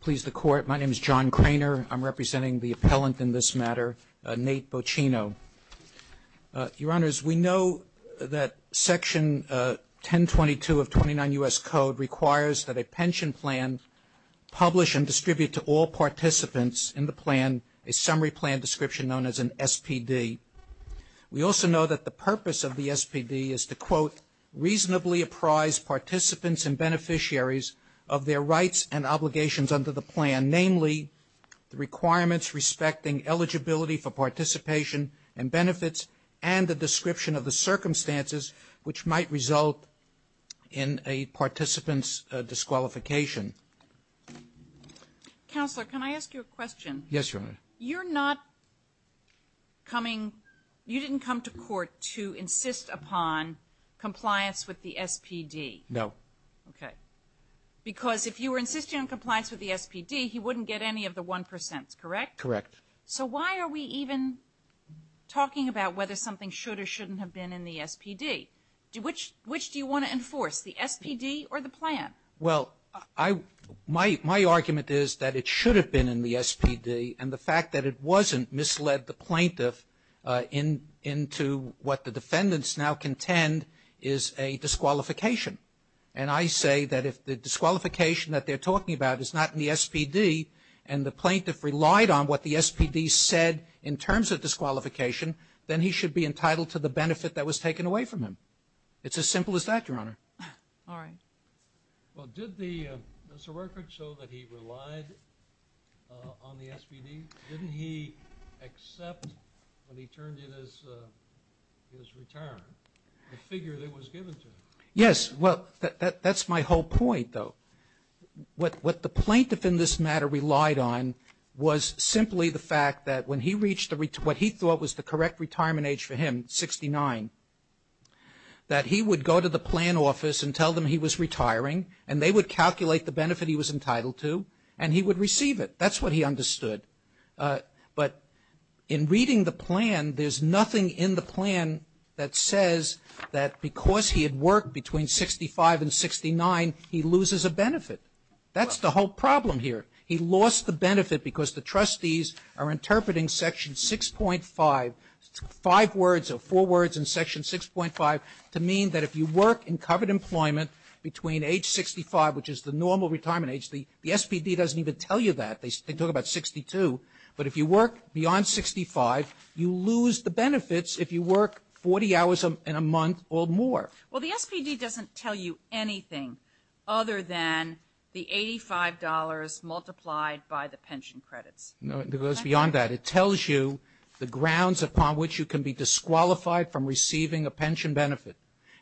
please the court. My name is John Cranor. I'm representing the appellant in this matter, Nate Bocchino. Your Honors, we know that Section 1022 of 29 U.S. Code requires that a pension plan publish and distribute to all participants in the plan a summary plan description known as an SPD. We also know that the purpose of the SPD is to quote, reasonably apprise participants and beneficiaries of their rights and obligations under the plan, namely the requirements respecting eligibility for participation and benefits and the description of the circumstances which might result in a participant's disqualification. Counselor, can I ask you a question? Yes, Your Honor. You're not coming, you didn't come to court to insist upon compliance with the SPD? No. Okay. Because if you were insisting on compliance with the SPD, he wouldn't get any of the 1%, correct? Correct. So why are we even talking about whether something should or shouldn't have been in the SPD? Which do you want to enforce, the SPD or the plan? Well, my argument is that it should have been in the SPD and the fact that it wasn't misled the plaintiff into what the defendants now contend is a disqualification. And I say that if the disqualification that they're talking about is not in the SPD and the plaintiff relied on what the SPD said in terms of disqualification, then he should be entitled to the benefit that was taken away from him. It's as simple as that, Your Honor. All right. Well, did the, does the record show that he relied on the SPD? Didn't he accept when he turned in his return the figure that was given to him? Yes. Well, that's my whole point though. What the plaintiff in this matter relied on was simply the fact that when he reached what he thought was the correct retirement age for him, 69, that he would go to the plan office and tell them he was retiring and they would calculate the benefit he was entitled to and he would receive it. That's what he understood. But in reading the plan, there's nothing in the plan that says that because he had worked between 65 and 69, he loses a benefit. That's the whole problem here. He lost the benefit because the trustees are interpreting Section 6.5, five words or four words in Section 6.5 to mean that if you work in covered employment between age 65, which is the normal retirement age, the SPD doesn't even tell you that. They talk about 62. But if you work beyond 65, you lose the benefits if you work 40 hours in a month or more. Well, the SPD doesn't tell you anything other than the $85 multiplied by the pension credits. No, it goes beyond that. It tells you the grounds upon which you can be disqualified from receiving a pension benefit.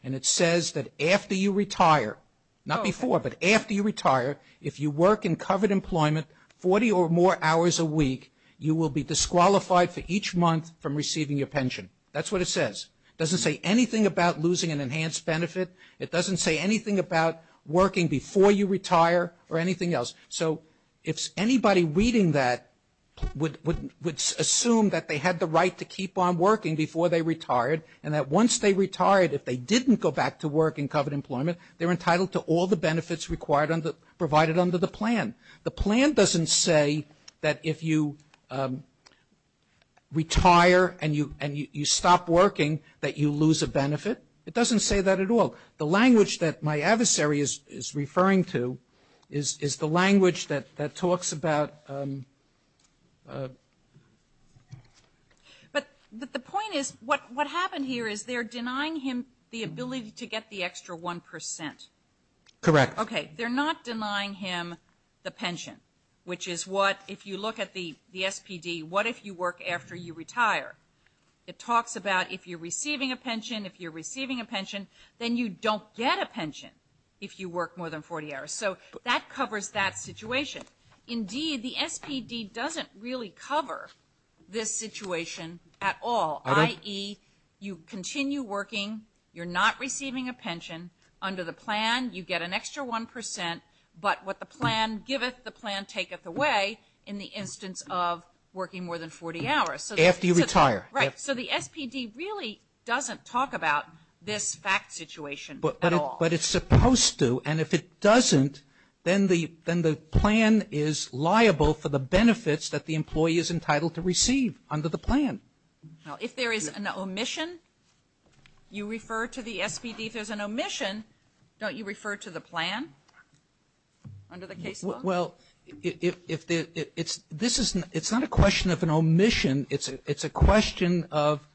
And it says that after you retire, not before, but after you retire, if you work in covered employment 40 or more hours a week, you will be disqualified for each month from receiving your pension. That's what it says. It doesn't say anything about losing an enhanced benefit. It doesn't say anything about working before you retire or anything else. So if anybody reading that would assume that they had the right to keep on working before they retired, and that once they retired, if they didn't go back to work in covered employment, they're entitled to all the benefits provided under the plan. The plan doesn't say that if you retire and you stop working, that you lose a benefit. It doesn't say that at all. The language that my adversary is referring to is the language that talks about... But the point is, what happened here is they're denying him the ability to get the extra one percent. Correct. Okay. They're not denying him the pension, which is what, if you look at the SPD, what if you work after you retire? It talks about if you're receiving a pension, if you're receiving a pension, then you don't get a pension if you work more than 40 hours. So that covers that situation. Indeed, the SPD doesn't really cover this situation at all, i.e., you continue working, you're not receiving a pension. Under the plan, you get an extra one percent, but what the plan giveth, the plan taketh away in the instance of working more than 40 hours. After you retire. Right. So the SPD really doesn't talk about this fact situation at all. But it's supposed to, and if it doesn't, then the plan is liable for the benefits that the employee is entitled to receive under the plan. If there is an omission, you refer to the SPD. If there's an omission, don't you refer to the plan under the case law? Well, it's not a question of an omission. It's a question of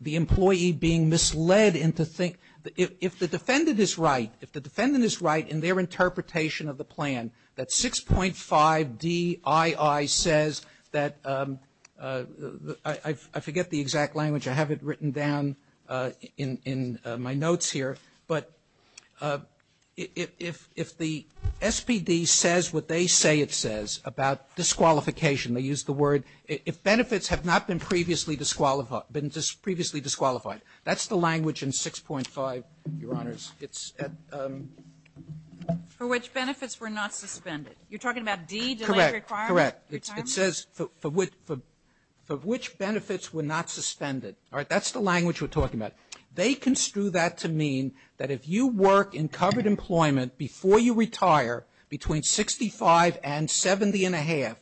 the employee being misled into thinking, if the defendant is right, if the defendant is right in their interpretation of the plan, that 6.5 DII says that, I forget the exact language, I have it written down in my notes here, but if the SPD says what they say it says about disqualification, they use the word, if benefits have not been previously disqualified, that's the language in 6.5, Your Honors. For which benefits were not suspended. You're talking about D, delayed requirement? Correct, correct. It says for which benefits were not suspended. That's the language we're talking about. They construe that to mean that if you work in covered employment before you retire, between 65 and 70 and a half,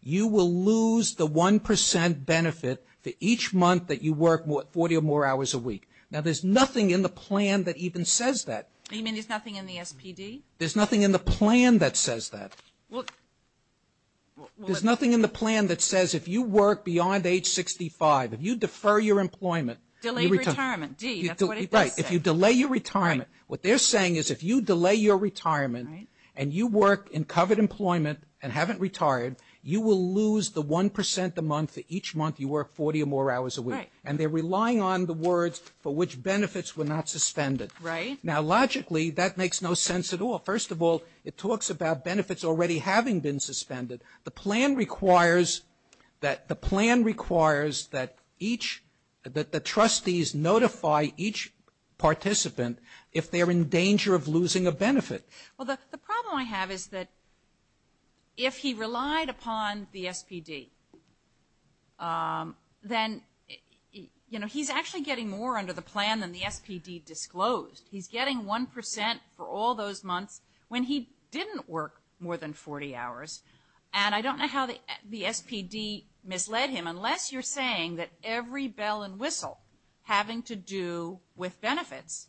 you will lose the 1% benefit for each month that you work 40 or more hours a week. Now there's nothing in the plan that even says that. You mean there's nothing in the SPD? There's nothing in the plan that says that. Well. There's nothing in the plan that says if you work beyond age 65, if you defer your employment, Delayed retirement. D, that's what it does say. Right, if you delay your retirement. What they're saying is if you delay your retirement and you work in covered employment and haven't retired, you will lose the 1% a month for each month you work 40 or more hours a week. Right. And they're relying on the words for which benefits were not suspended. Right. Now logically, that makes no sense at all. First of all, it talks about benefits already having been suspended. The plan requires that each, that the trustees notify each participant if they're in danger of losing a benefit. Well, the problem I have is that if he relied upon the SPD, then, you know, he's actually getting more under the plan than the SPD disclosed. He's getting 1% for all those months when he didn't work more than 40 hours. And I don't know how the SPD misled him. Unless you're saying that every bell and whistle having to do with benefits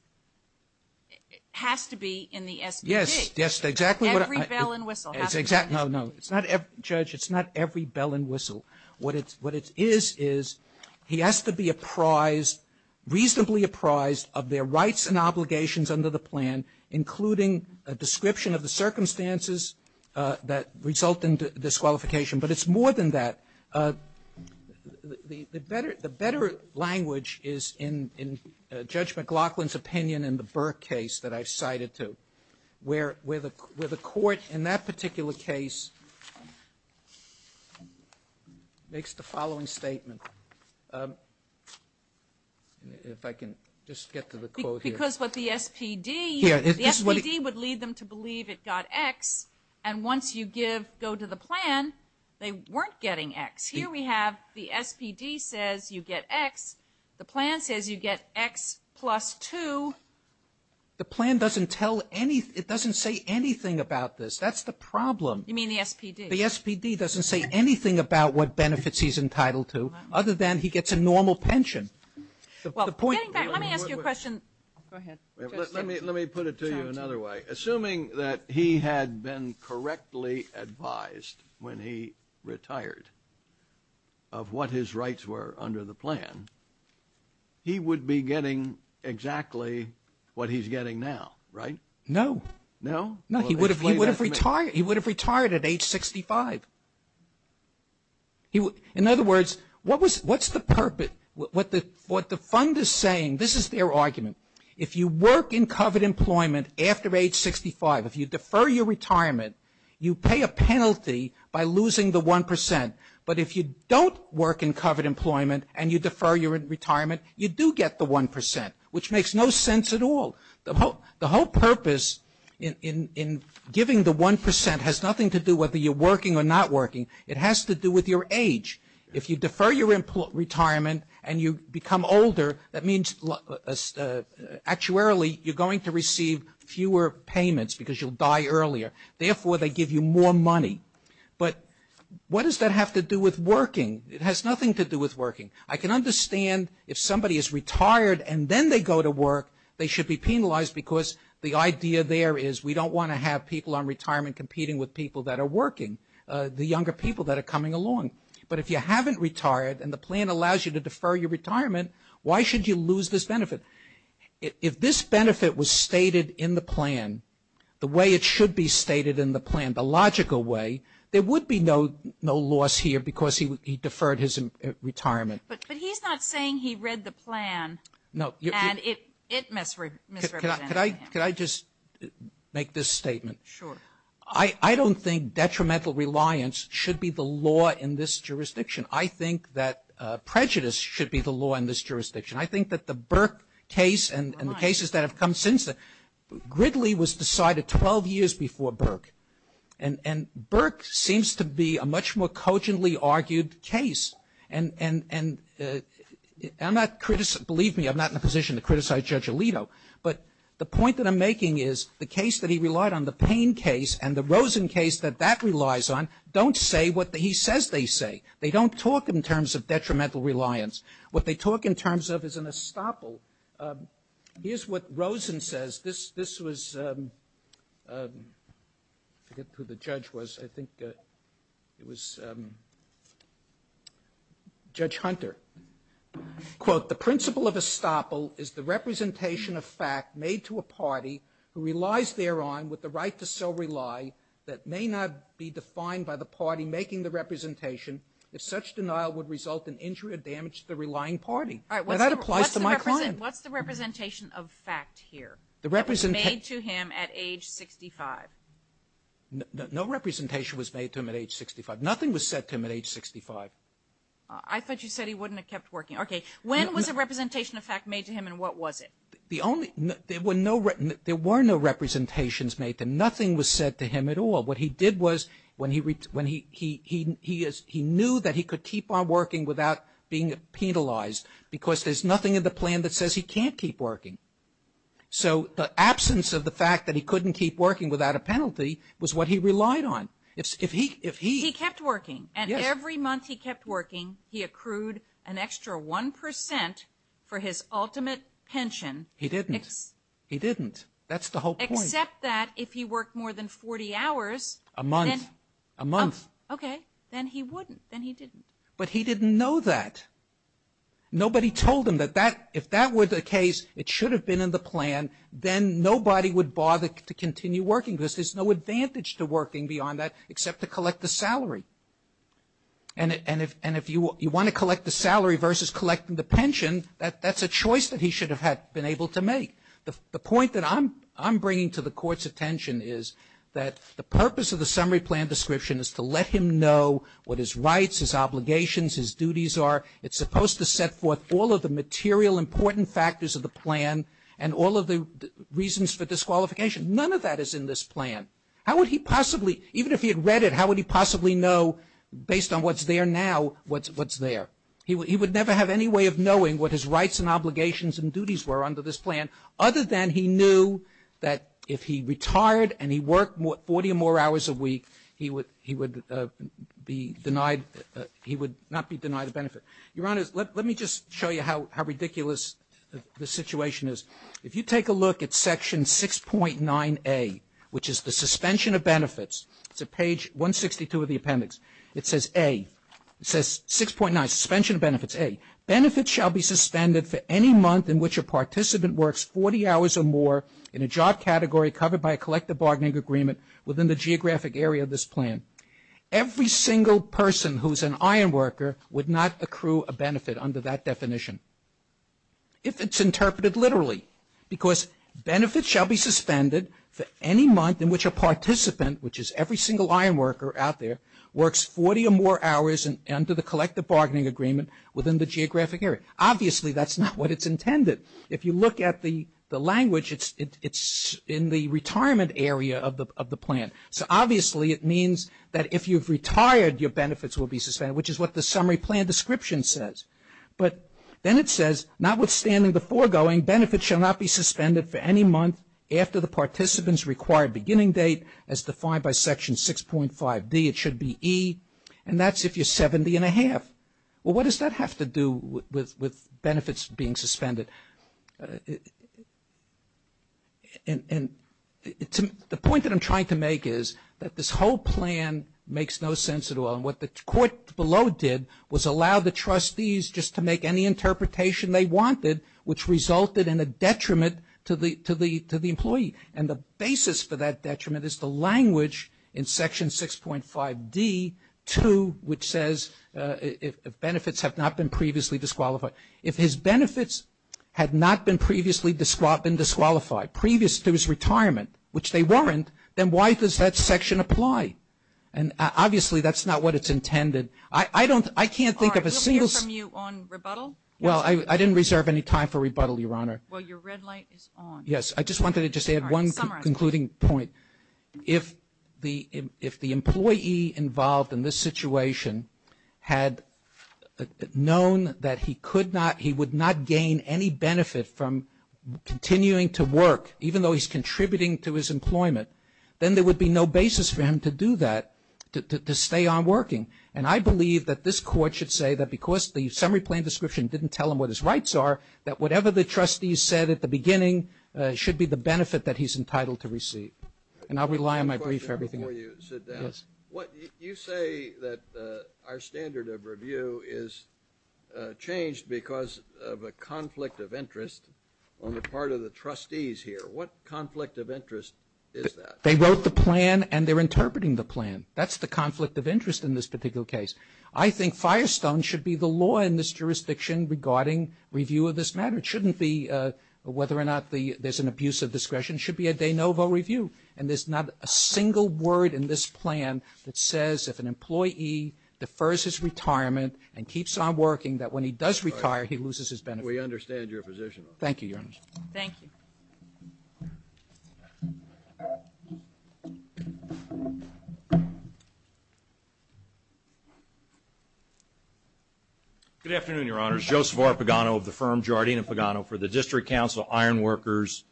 has to be in the SPD. Yes, yes, exactly. Every bell and whistle. No, no. It's not every, Judge, it's not every bell and whistle. What it is is he has to be apprised, reasonably apprised of their rights and obligations under the plan, including a description of the circumstances that result in disqualification. But it's more than that. The better language is in Judge McLaughlin's opinion in the Burke case that I've cited to, where the court in that particular case makes the following statement. If I can just get to the quote here. Because what the SPD, the SPD would lead them to believe it got X. And once you give, go to the plan, they weren't getting X. Here we have the SPD says you get X. The plan says you get X plus 2. The plan doesn't tell any, it doesn't say anything about this. That's the problem. You mean the SPD? The SPD doesn't say anything about what benefits he's entitled to, other than he gets a normal pension. Getting back, let me ask you a question. Go ahead. Let me put it to you another way. Assuming that he had been correctly advised when he retired of what his rights were under the plan, he would be getting exactly what he's getting now, right? No. No? No, he would have retired. He would have retired at age 65. In other words, what's the purpose, what the fund is saying, this is their argument. If you work in covered employment after age 65, if you defer your retirement, you pay a penalty by losing the 1%. But if you don't work in covered employment and you defer your retirement, you do get the 1%, which makes no sense at all. The whole purpose in giving the 1% has nothing to do whether you're working or not working. It has to do with your age. If you defer your retirement and you become older, that means actuarily you're going to receive fewer payments because you'll die earlier. Therefore, they give you more money. But what does that have to do with working? It has nothing to do with working. I can understand if somebody is retired and then they go to work, they should be penalized because the idea there is we don't want to have people on retirement competing with people that are coming along. But if you haven't retired and the plan allows you to defer your retirement, why should you lose this benefit? If this benefit was stated in the plan the way it should be stated in the plan, the logical way, there would be no loss here because he deferred his retirement. But he's not saying he read the plan and it misrepresented him. Could I just make this statement? Sure. I don't think detrimental reliance should be the law in this jurisdiction. I think that prejudice should be the law in this jurisdiction. I think that the Burke case and the cases that have come since, Gridley was decided 12 years before Burke. And Burke seems to be a much more cogently argued case. And I'm not, believe me, I'm not in a position to criticize Judge Alito. But the point that I'm making is the case that he relied on, the Payne case and the Rosen case that that relies on, don't say what he says they say. They don't talk in terms of detrimental reliance. What they talk in terms of is an estoppel. Here's what Rosen says. This was, I forget who the judge was. I think it was Judge Hunter. Quote, the principle of estoppel is the representation of fact made to a party who relies thereon with the right to so rely that may not be defined by the party making the representation if such denial would result in injury or damage to the relying party. Now, that applies to my client. What's the representation of fact here that was made to him at age 65? No representation was made to him at age 65. Nothing was said to him at age 65. I thought you said he wouldn't have kept working. Okay. When was a representation of fact made to him and what was it? There were no representations made to him. Nothing was said to him at all. What he did was when he knew that he could keep on working without being penalized because there's nothing in the plan that says he can't keep working. So the absence of the fact that he couldn't keep working without a penalty was what he relied on. He kept working. And every month he kept working, he accrued an extra 1% for his ultimate pension. He didn't. He didn't. That's the whole point. Except that if he worked more than 40 hours. A month. A month. Okay. Then he wouldn't. Then he didn't. But he didn't know that. Nobody told him that if that were the case, it should have been in the plan, then nobody would bother to continue working because there's no advantage to relying on that except to collect the salary. And if you want to collect the salary versus collecting the pension, that's a choice that he should have been able to make. The point that I'm bringing to the Court's attention is that the purpose of the summary plan description is to let him know what his rights, his obligations, his duties are. It's supposed to set forth all of the material important factors of the plan and all of the reasons for disqualification. None of that is in this plan. How would he possibly, even if he had read it, how would he possibly know based on what's there now what's there? He would never have any way of knowing what his rights and obligations and duties were under this plan other than he knew that if he retired and he worked 40 or more hours a week, he would be denied, he would not be denied a benefit. Your Honor, let me just show you how ridiculous the situation is. If you take a look at section 6.9A, which is the suspension of benefits, it's at page 162 of the appendix, it says A, it says 6.9, suspension of benefits A, benefits shall be suspended for any month in which a participant works 40 hours or more in a job category covered by a collective bargaining agreement within the geographic area of this plan. Every single person who's an iron worker would not accrue a benefit under that definition. If it's interpreted literally, because benefits shall be suspended for any month in which a participant, which is every single iron worker out there, works 40 or more hours under the collective bargaining agreement within the geographic area. Obviously, that's not what it's intended. If you look at the language, it's in the retirement area of the plan. So, obviously, it means that if you've retired, your benefits will be suspended, which is what the summary plan description says. But then it says, notwithstanding the foregoing, benefits shall not be suspended for any month after the participant's required beginning date as defined by section 6.5D. It should be E, and that's if you're 70 and a half. Well, what does that have to do with benefits being suspended? And the point that I'm trying to make is that this whole plan makes no sense at all, and what the court below did was allow the trustees just to make any interpretation they wanted, which resulted in a detriment to the employee. And the basis for that detriment is the language in section 6.5D2, which says if benefits have not been previously disqualified. If his benefits had not been previously disqualified, previous to his retirement, which they weren't, then why does that section apply? And, obviously, that's not what it's intended. I can't think of a single. All right. We'll hear from you on rebuttal. Well, I didn't reserve any time for rebuttal, Your Honor. Well, your red light is on. I just wanted to just add one concluding point. All right. Summarize. If the employee involved in this situation had known that he could not, he would not gain any benefit from continuing to work, even though he's contributing to his employment, then there would be no basis for him to do that, to stay on working. And I believe that this court should say that because the summary plan description didn't tell him what his rights are, that whatever the trustees said at the beginning should be the benefit that he's entitled to receive. And I'll rely on my brief for everything. I have a question for you. Sit down. Yes. You say that our standard of review is changed because of a conflict of interest on the part of the trustees here. What conflict of interest is that? They wrote the plan and they're interpreting the plan. That's the conflict of interest in this particular case. I think Firestone should be the law in this jurisdiction regarding review of this matter. It shouldn't be whether or not there's an abuse of discretion. It should be a de novo review. And there's not a single word in this plan that says if an employee defers his retirement and keeps on working, that when he does retire, he loses his benefit. We understand your position. Thank you, Your Honor. Thank you. Thank you. Good afternoon, Your Honors. Joseph R. Pagano of the firm Giardina Pagano for the District Council Ironworkers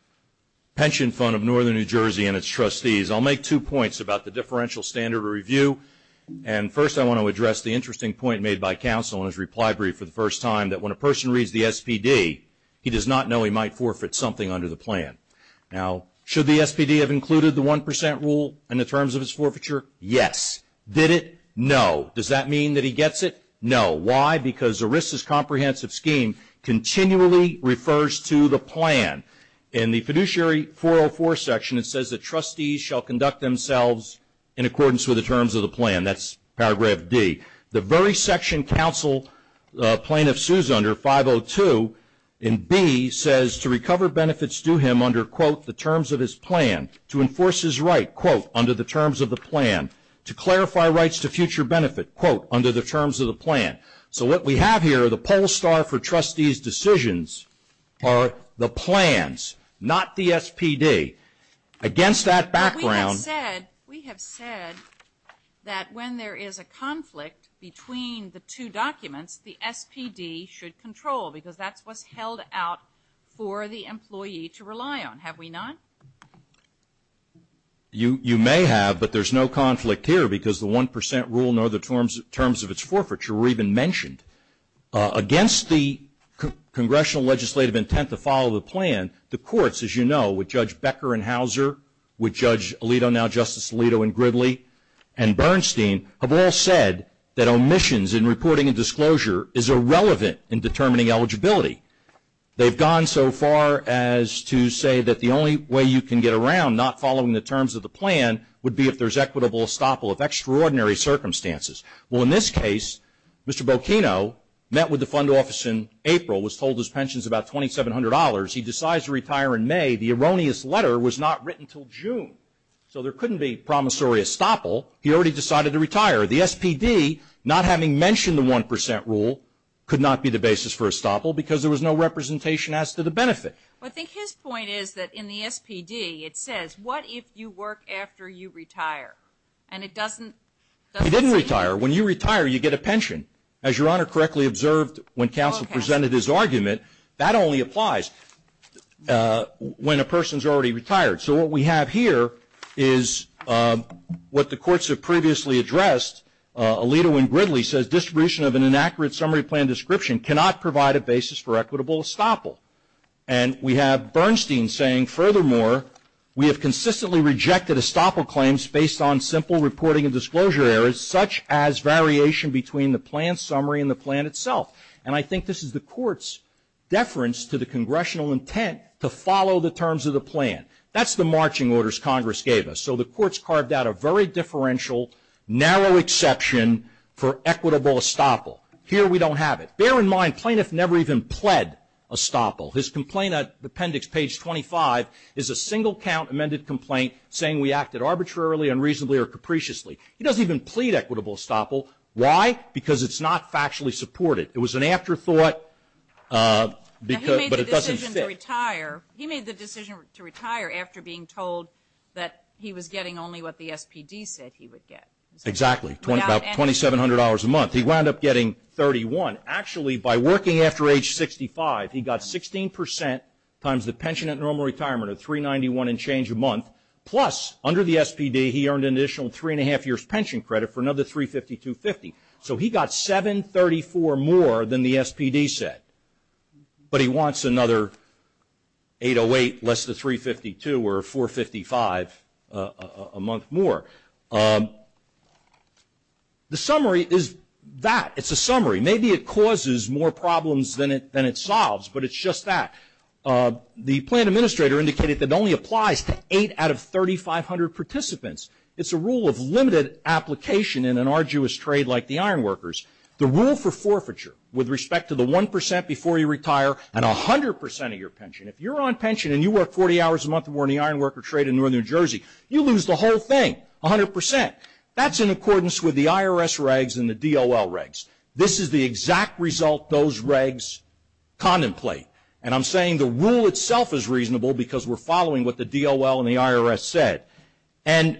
Pension Fund of Northern New Jersey and its trustees. I'll make two points about the differential standard of review. And first I want to address the interesting point made by counsel in his reply brief for the first time, that when a person reads the SPD, he does not know he might forfeit something under the plan. Now, should the SPD have included the 1% rule in the terms of his forfeiture? Yes. Did it? No. Does that mean that he gets it? No. Why? Because ERISA's comprehensive scheme continually refers to the plan. In the fiduciary 404 section, it says that trustees shall conduct themselves in accordance with the terms of the plan. That's paragraph D. The very section counsel plaintiff sues under 502 in B says, to recover benefits due him under, quote, the terms of his plan, to enforce his right, quote, under the terms of the plan, to clarify rights to future benefit, quote, under the terms of the plan. So what we have here are the poll star for trustees' decisions are the plans, not the SPD. Against that background. We have said that when there is a conflict between the two documents, the SPD should control because that's what's held out for the employee to rely on. Have we not? You may have, but there's no conflict here because the 1% rule nor the terms of its forfeiture were even mentioned. Against the congressional legislative intent to follow the plan, the courts, as you know, with Judge Becker and Hauser with Judge Alito now Justice Alito and Gridley and Bernstein have all said that omissions in reporting and disclosure is irrelevant in determining eligibility. They've gone so far as to say that the only way you can get around not following the terms of the plan would be if there's equitable estoppel of extraordinary circumstances. Well, in this case, Mr. Bocchino met with the fund office in April, was told his pension's about $2,700. He decides to retire in May. The erroneous letter was not written until June, so there couldn't be promissory estoppel. He already decided to retire. The SPD, not having mentioned the 1% rule, could not be the basis for estoppel because there was no representation as to the benefit. Well, I think his point is that in the SPD, it says what if you work after you retire, and it doesn't say anything. He didn't retire. When you retire, you get a pension. As Your Honor correctly observed when counsel presented his argument, that only applies. When a person's already retired. So what we have here is what the courts have previously addressed. Alito and Gridley says distribution of an inaccurate summary plan description cannot provide a basis for equitable estoppel. And we have Bernstein saying, furthermore, we have consistently rejected estoppel claims based on simple reporting and disclosure errors such as variation between the plan summary and the plan itself. And I think this is the court's deference to the congressional intent to follow the terms of the plan. That's the marching orders Congress gave us. So the courts carved out a very differential, narrow exception for equitable estoppel. Here we don't have it. Bear in mind, plaintiff never even pled estoppel. His complaint appendix, page 25, is a single count amended complaint saying we acted arbitrarily, unreasonably, or capriciously. He doesn't even plead equitable estoppel. Why? Because it's not factually supported. It was an afterthought, but it doesn't fit. He made the decision to retire after being told that he was getting only what the SPD said he would get. Exactly, about $2,700 a month. He wound up getting 31. Actually, by working after age 65, he got 16% times the pension at normal retirement of 391 and change a month, plus under the SPD he earned an additional three and a half years pension credit for another 352.50. So he got 734 more than the SPD said, but he wants another 808 less than 352 or 455 a month more. The summary is that. It's a summary. Maybe it causes more problems than it solves, but it's just that. The plan administrator indicated that it only applies to eight out of 3,500 participants. It's a rule of limited application in an arduous trade like the ironworkers. The rule for forfeiture with respect to the 1% before you retire and 100% of your pension. If you're on pension and you work 40 hours a month more in the ironworker trade in northern New Jersey, you lose the whole thing, 100%. That's in accordance with the IRS regs and the DOL regs. This is the exact result those regs contemplate, and I'm saying the rule itself is reasonable because we're following what the DOL and the IRS said. And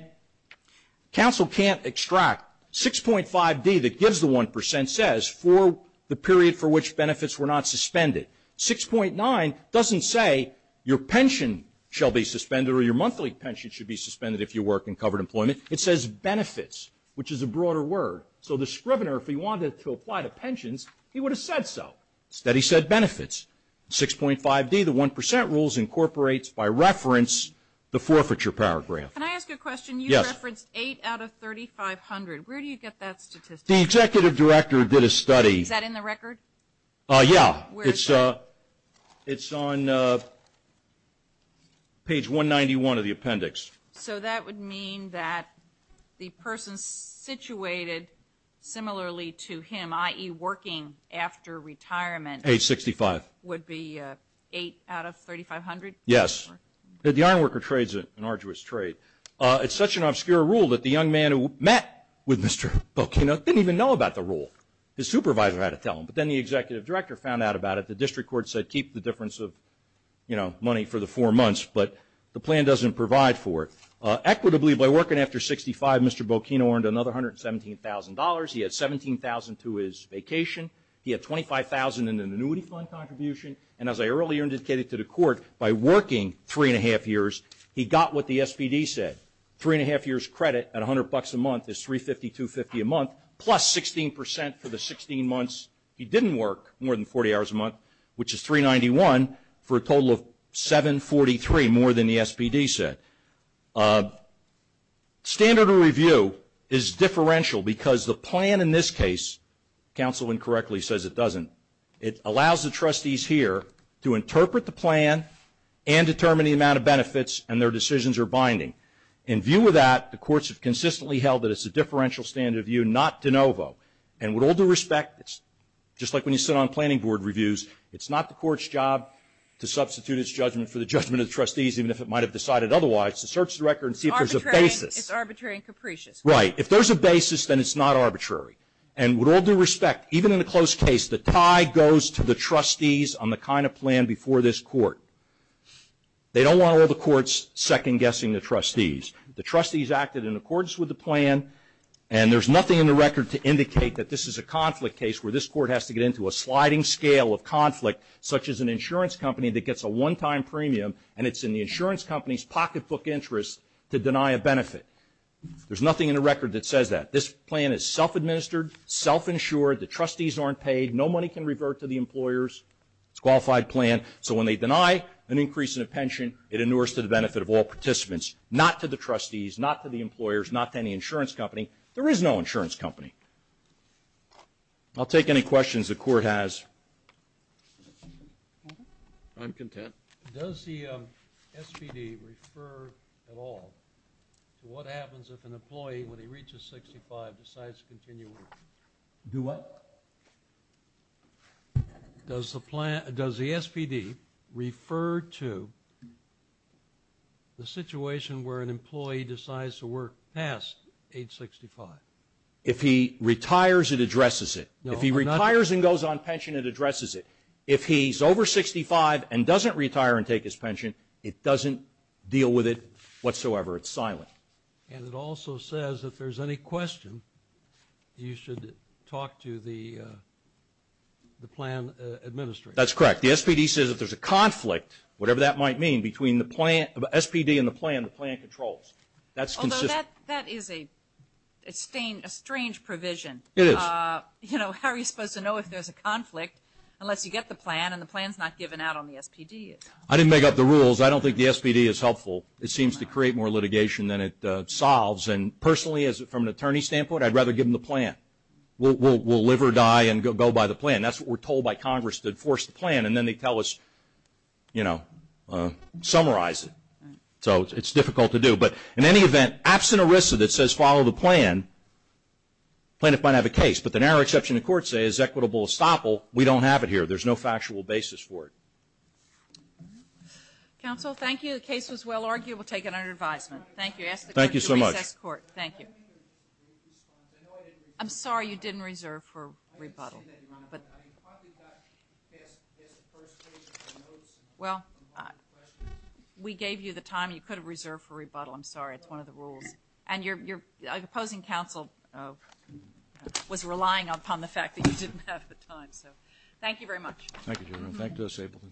counsel can't extract 6.5D that gives the 1% says for the period for which benefits were not suspended. 6.9 doesn't say your pension shall be suspended or your monthly pension should be suspended if you work in covered employment. It says benefits, which is a broader word. So the scrivener, if he wanted to apply to pensions, he would have said so. Instead he said benefits. 6.5D, the 1% rules, incorporates by reference the forfeiture paragraph. Can I ask you a question? Yes. You referenced 8 out of 3,500. Where do you get that statistic? The executive director did a study. Is that in the record? Yeah. Where is it? It's on page 191 of the appendix. So that would mean that the person situated similarly to him, i.e., working after retirement. Age 65. Would be 8 out of 3,500? Yes. The iron worker trades an arduous trade. It's such an obscure rule that the young man who met with Mr. Bocchino didn't even know about the rule. His supervisor had to tell him. But then the executive director found out about it. The district court said keep the difference of, you know, money for the four months. But the plan doesn't provide for it. Equitably, by working after 65, Mr. Bocchino earned another $117,000. He had $17,000 to his vacation. He had $25,000 in an annuity fund contribution. And as I earlier indicated to the court, by working three and a half years, he got what the SPD said. Three and a half years credit at $100 a month is $350, $250 a month, plus 16% for the 16 months he didn't work more than 40 hours a month, which is $391 for a total of $743, more than the SPD said. Standard of review is differential because the plan in this case, counsel incorrectly says it doesn't, it allows the trustees here to interpret the plan and determine the amount of benefits and their decisions are binding. In view of that, the courts have consistently held that it's a differential standard of view, not de novo. And with all due respect, just like when you sit on planning board reviews, it's not the court's job to substitute its judgment for the judgment of the trustees, even if it might have decided otherwise, to search the record and see if there's a basis. It's arbitrary and capricious. Right. If there's a basis, then it's not arbitrary. And with all due respect, even in a close case, the tie goes to the trustees on the kind of plan before this court. They don't want all the courts second-guessing the trustees. The trustees acted in accordance with the plan, and there's nothing in the record to indicate that this is a conflict case where this court has to get into a sliding scale of conflict, such as an insurance company that gets a one-time premium, and it's in the insurance company's pocketbook interest to deny a benefit. There's nothing in the record that says that. This plan is self-administered, self-insured. The trustees aren't paid. No money can revert to the employers. It's a qualified plan. So when they deny an increase in a pension, it inures to the benefit of all participants, not to the trustees, not to the employers, not to any insurance company. There is no insurance company. I'll take any questions the court has. I'm content. Does the SPD refer at all to what happens if an employee, when he reaches 65, decides to continue working? Do what? Does the SPD refer to the situation where an employee decides to work past age 65? If he retires, it addresses it. If he retires and goes on pension, it addresses it. If he's over 65 and doesn't retire and take his pension, it doesn't deal with it whatsoever. It's silent. And it also says if there's any question, you should talk to the plan administrator. That's correct. The SPD says if there's a conflict, whatever that might mean, between the plan, SPD and the plan, the plan controls. That's consistent. Although that is a strange provision. It is. How are you supposed to know if there's a conflict unless you get the plan and the plan's not given out on the SPD? I didn't make up the rules. I don't think the SPD is helpful. It seems to create more litigation than it solves. And personally, from an attorney's standpoint, I'd rather give them the plan. We'll live or die and go by the plan. That's what we're told by Congress to enforce the plan, and then they tell us, you know, summarize it. So it's difficult to do. But in any event, absent a RISA that says follow the plan, the plaintiff might have a case. But the narrow exception the courts say is equitable estoppel, we don't have it here. There's no factual basis for it. Counsel, thank you. The case was well argued. We'll take it under advisement. Thank you. Thank you so much. Thank you. I'm sorry you didn't reserve for rebuttal. Well, we gave you the time. You could have reserved for rebuttal. I'm sorry. It's one of the rules. And your opposing counsel was relying upon the fact that you didn't have the time. So thank you very much. Thank you, General. Thank you, Ms. Ableton.